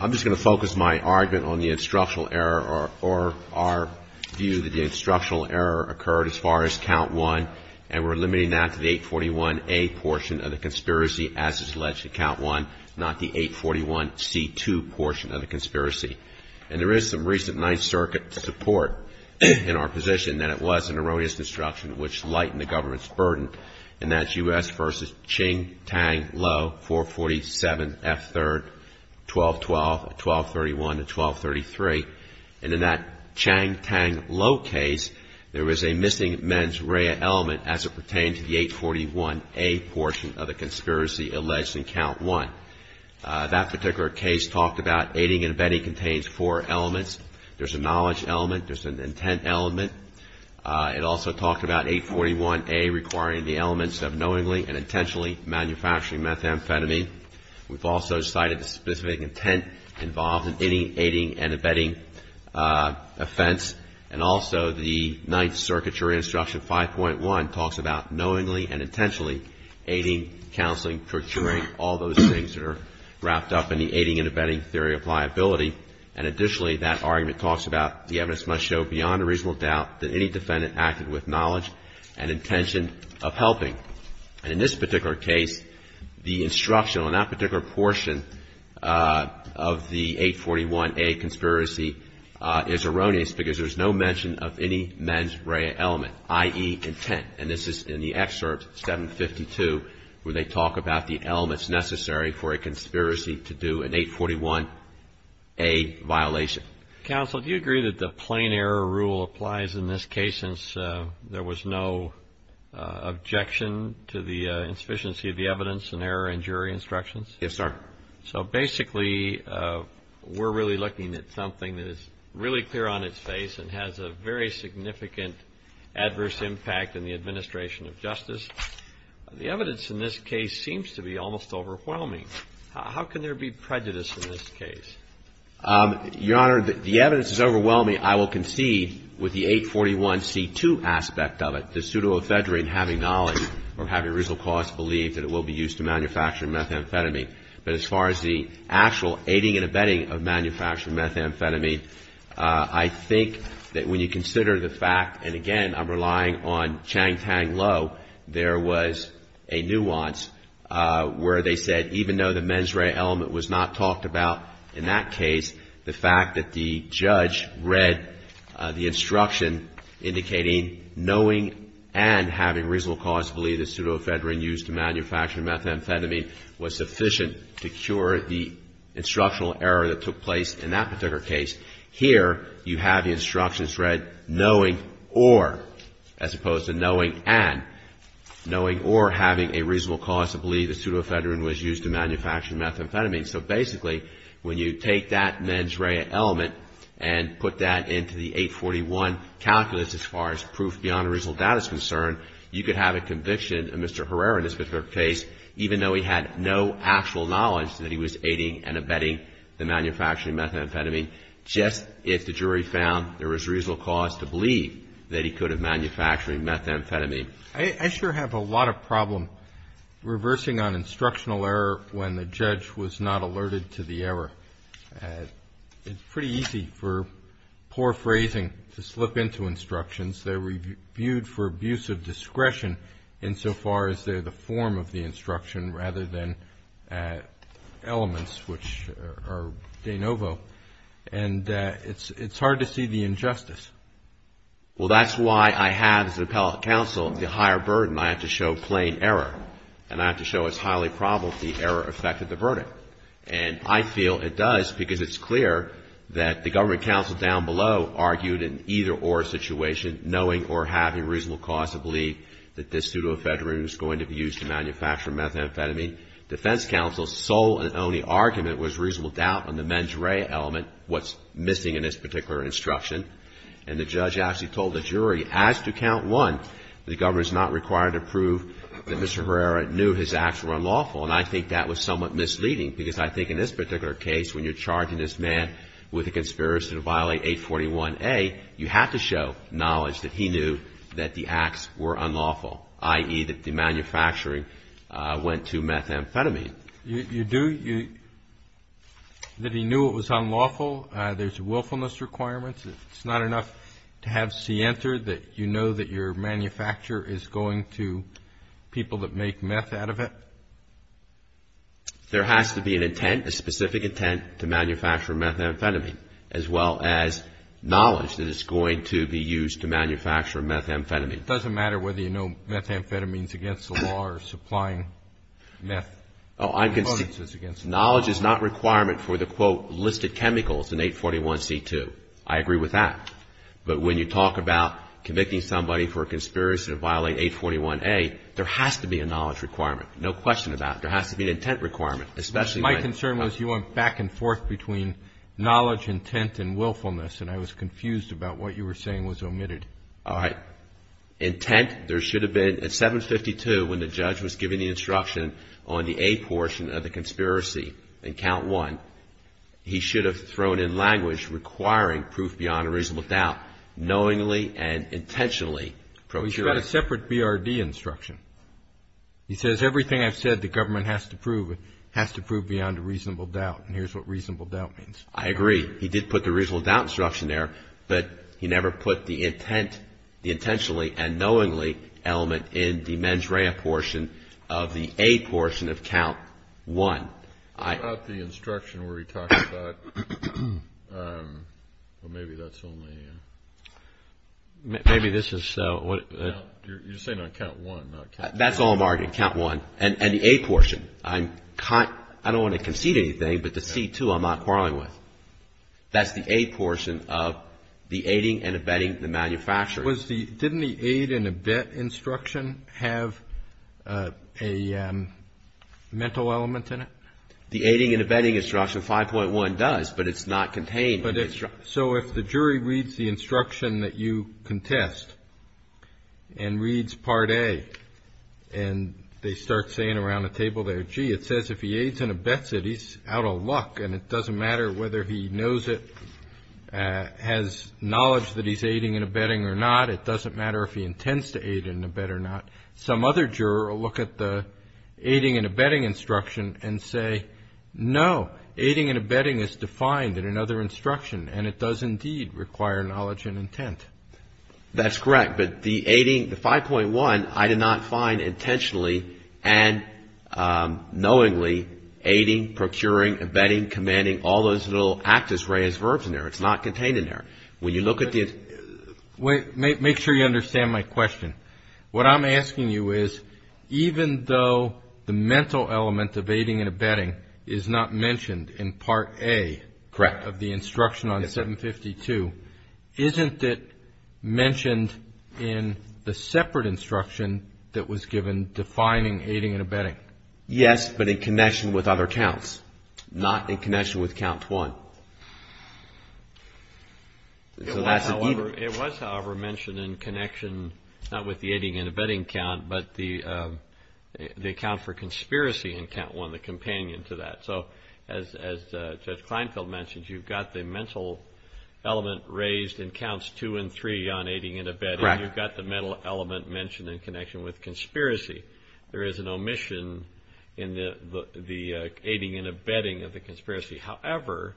I'm just going to focus my argument on the instructional error or our view that the instructional error occurred as far as count one, and we're limiting that to the 841A portion of the conspiracy as it's alleged to count one, not the 841C2 portion of the conspiracy. And there is some recent Ninth Circuit support in our position that it was an erroneous destruction which would lighten the government's burden, and that's U.S. v. Chang, Tang, Lo, 447F3, 1212, 1231, and 1233. And in that Chang, Tang, Lo case, there was a missing mens rea element as it pertained to the 841A portion of the conspiracy alleged in count one. That particular case talked about aiding and abetting contains four elements. There's a knowledge element, there's an intent element. It also talked about 841A requiring the elements of knowingly and intentionally manufacturing methamphetamine. We've also cited the specific intent involved in aiding and abetting offense. And also the Ninth Circuit's Reinstruction 5.1 talks about knowingly and intentionally aiding, counseling, procuring, all those things that are wrapped up in the aiding and abetting theory of liability. And additionally, that argument talks about the evidence must show beyond a reasonable doubt that any defendant acted with knowledge and intention of helping. And in this particular case, the instruction on that particular portion of the 841A conspiracy is erroneous because there's no mention of any mens rea element, i.e., intent. And this is in the excerpt 752 where they talk about the elements necessary for a conspiracy to do an 841A violation. Counsel, do you agree that the plain error rule applies in this case since there was no objection to the insufficiency of the evidence and error in jury instructions? Yes, sir. So basically, we're really looking at something that is really clear on its face and has a very significant adverse impact in the administration of justice. The evidence in this case seems to be almost overwhelming. How can there be prejudice in this case? Your Honor, the evidence is overwhelming. I will concede with the 841C2 aspect of it, the pseudoephedrine having knowledge or having reasonable cause to believe that it will be used to manufacture methamphetamine. But as far as the actual aiding and abetting of manufacturing methamphetamine, I think that when you consider the fact, and again, I'm relying on Chang Tang Lo, there was a nuance where they said even though the mens rea element was not talked about in that case, the fact that the judge read the instruction indicating knowing and having reasonable cause to believe the pseudoephedrine used to manufacture methamphetamine was sufficient to cure the instructional error that took place in that particular case. Here, you have the instructions read knowing or, as opposed to knowing and. Knowing or having a reasonable cause to believe the pseudoephedrine was used to manufacture methamphetamine. So basically, when you take that mens rea element and put that into the 841 calculus as far as proof beyond original data is concerned, you could have a conviction in Mr. Herrera in this particular case, even though he had no actual knowledge that he was aiding and abetting the manufacturing methamphetamine, just if the jury found there was reasonable cause to believe that he could have manufactured methamphetamine. I sure have a lot of problem reversing on instructional error when the judge was not alerted to the error. It's pretty easy for poor phrasing to slip into instructions. They were viewed for abuse of discretion insofar as they're the form of the instruction rather than elements, which are de novo, and it's hard to see the injustice. Well, that's why I have, as an appellate counsel, the higher burden. I have to show plain error, and I have to show it's highly probable the error affected the verdict. And I feel it does because it's clear that the government counsel down below argued in either or situation knowing or having a reasonable cause to believe that this pseudoephedrine was going to be used to manufacture methamphetamine. Defense counsel's sole and only argument was reasonable doubt on the mens rea element, what's missing in this particular instruction. And the judge actually told the jury, as to count one, the government's not required to prove that Mr. Herrera knew his acts were unlawful. And I think that was somewhat misleading because I think in this particular case, when you're charging this man with a conspiracy to violate 841A, you have to show knowledge that he knew that the acts were unlawful, i.e., that the manufacturing went to methamphetamine. You do? That he knew it was unlawful? There's willfulness requirements? It's not enough to have scienter that you know that your manufacturer is going to people that make meth out of it? There has to be an intent, a specific intent to manufacture methamphetamine, as well as knowledge that it's going to be used to manufacture methamphetamine. It doesn't matter whether you know methamphetamine is against the law or supplying meth. Oh, I'm concerned. Knowledge is not a requirement for the, quote, listed chemicals in 841C2. I agree with that. But when you talk about convicting somebody for a conspiracy to violate 841A, there has to be a knowledge requirement. No question about it. There has to be an intent requirement, especially when it's not. My concern was you went back and forth between knowledge, intent and willfulness, and I was confused about what you were saying was omitted. All right. Intent, there should have been at 752 when the judge was giving the instruction on the A portion of the conspiracy in count one, he should have thrown in language requiring proof beyond a reasonable doubt, knowingly and intentionally procuring. Well, he's got a separate BRD instruction. He says everything I've said the government has to prove has to prove beyond a reasonable doubt, and here's what reasonable doubt means. I agree. He did put the reasonable doubt instruction there, but he never put the intent, the intentionally and knowingly element in the mens rea portion of the A portion of count one. What about the instruction where he talks about, well, maybe that's only... Maybe this is what... You're saying on count one, not count two. That's all I'm arguing, count one, and the A portion. I don't want to concede anything, but the C2 I'm not quarreling with. That's the A portion of the aiding and abetting the manufacturer. Didn't the aid and abet instruction have a mental element in it? The aiding and abetting instruction, 5.1 does, but it's not contained in the instruction. So if the jury reads the instruction that you contest and reads part A, and they start saying around the table there, gee, it says if he aids and abets it, he's out of luck, and it doesn't matter whether he knows it, has knowledge that he's aiding and abetting or not. It doesn't matter if he intends to aid and abet or not. Some other juror will look at the aiding and abetting instruction and say, no, aiding and abetting is defined in another instruction, and it does indeed require knowledge and intent. That's correct, but the aiding, the 5.1, I did not find intentionally and knowingly aiding, procuring, abetting, commanding, all those little actus reus verbs in there. It's not contained in there. When you look at the... Make sure you understand my question. What I'm asking you is even though the mental element of aiding and abetting is not mentioned in part A of the instruction on 752, isn't it mentioned in the separate instruction that was given defining aiding and abetting? Yes, but in connection with other counts, not in connection with count one. It was, however, mentioned in connection not with the aiding and abetting count, but the count for conspiracy in count one, the companion to that. As Judge Kleinfeld mentioned, you've got the mental element raised in counts two and three on aiding and abetting. You've got the mental element mentioned in connection with conspiracy. There is an omission in the aiding and abetting of the conspiracy. However,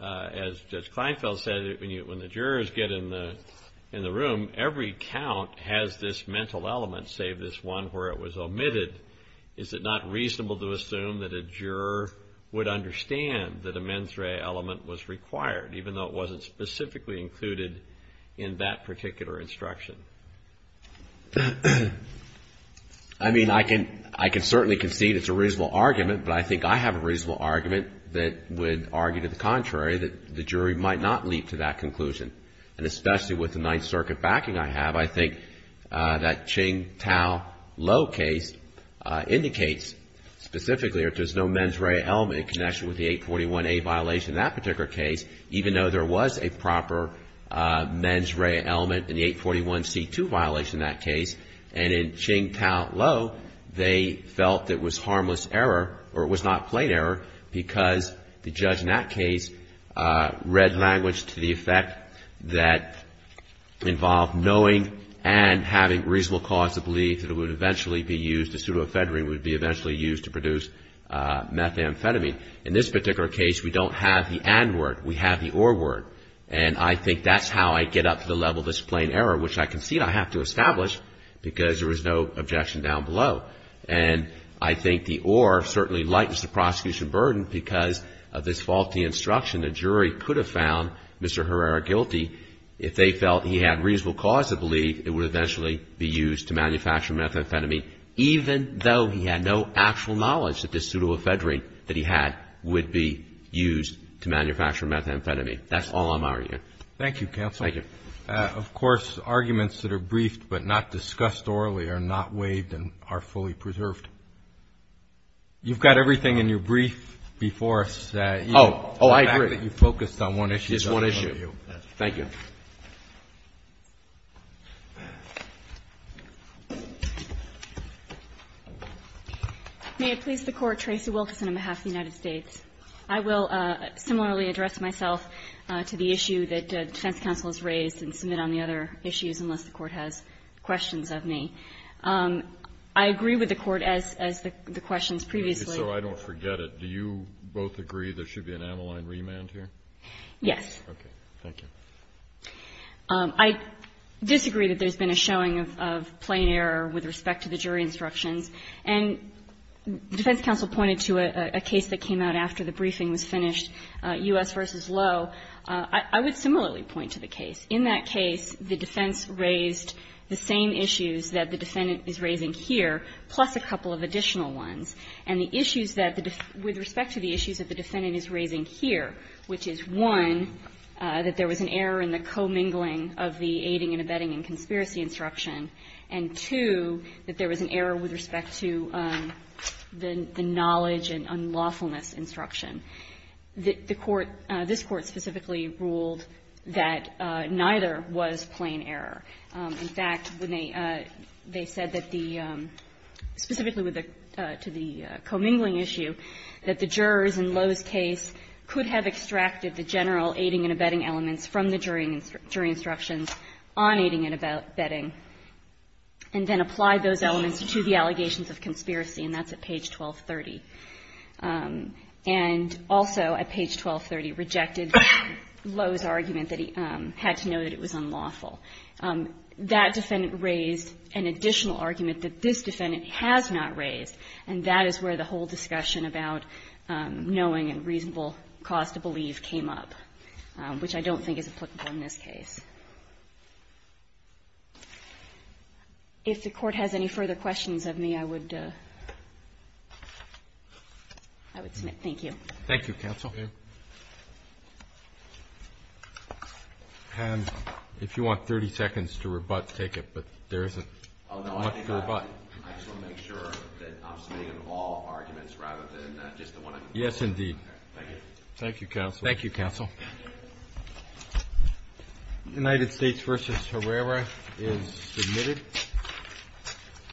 as Judge Kleinfeld said, when the jurors get in the room, every count has this mental element save this one where it was omitted. Is it not reasonable to assume that a juror would understand that a mens rea element was required even though it wasn't specifically included in that particular instruction? I mean, I can certainly concede it's a reasonable argument, but I think I have a reasonable argument that would argue to the contrary, that the jury might not leap to that conclusion. And especially with the Ninth Circuit backing I have, I think that Ching, Tao, Lo case indicates specifically if there's no mens rea element in connection with the 841A violation in that particular case, even though there was a proper mens rea element in the 841C2 violation in that case, and in Ching, Tao, Lo, they felt it was harmless error, or it was not plain error, because the judge in that case read language to the effect that involved knowing and having reasonable cause to believe that it would eventually be used, the pseudoephedrine would be eventually used to produce methamphetamine. In this particular case, we don't have the and word, we have the or word, and I think that's how I get up to the level of this plain error, which I concede I have to establish, because there was no objection down below. And I think the or certainly lightens the prosecution burden because of this faulty instruction the jury could have found Mr. Herrera guilty if they felt he had reasonable cause to believe it would eventually be used to manufacture methamphetamine, even though he had no actual knowledge that this pseudoephedrine that he had would be used to manufacture methamphetamine. That's all I'm arguing. Thank you, counsel. Thank you. Of course, arguments that are briefed but not discussed orally are not waived and are fully preserved. You've got everything in your brief before us that you Oh, oh, I agree. The fact that you focused on one issue is one issue. Thank you. May it please the Court, Tracy Wilkerson on behalf of the United States. I will similarly address myself to the issue that the defense counsel has raised and submit on the other issues, unless the Court has questions of me. I agree with the Court as the questions previously So I don't forget it. Do you both agree there should be an amyline remand here? Yes. Okay. Thank you. I disagree that there's been a showing of plain error with respect to the jury instructions. And the defense counsel pointed to a case that came out after the briefing was finished, U.S. v. Lowe. I would similarly point to the case. In that case, the defense raised the same issues that the defendant is raising here, plus a couple of additional ones. And the issues that the defendant, with respect to the issues that the defendant is raising here, which is, one, that there was an error in the commingling of the aiding and abetting and conspiracy instruction, and two, that there was an error with respect to the knowledge and unlawfulness instruction. The Court, this Court specifically ruled that neither was plain error. In fact, when they said that the – specifically with the – to the commingling issue, that the jurors in Lowe's case could have extracted the general aiding and abetting elements from the jury instructions on aiding and abetting, and then applied those elements to the allegations of conspiracy, and that's at page 1230. And also at page 1230, rejected Lowe's argument that he had to know that it was unlawful. That defendant raised an additional argument that this defendant has not raised. And that is where the whole discussion about knowing and reasonable cause to believe came up, which I don't think is applicable in this case. If the Court has any further questions of me, I would – I would submit. Thank you. Thank you, counsel. And if you want 30 seconds to rebut, take it, but there isn't much to rebut. I just want to make sure that I'm submitting all arguments rather than just the one I'm Yes, indeed. Thank you. Thank you, counsel. Thank you, counsel. United States v. Herrera is submitted.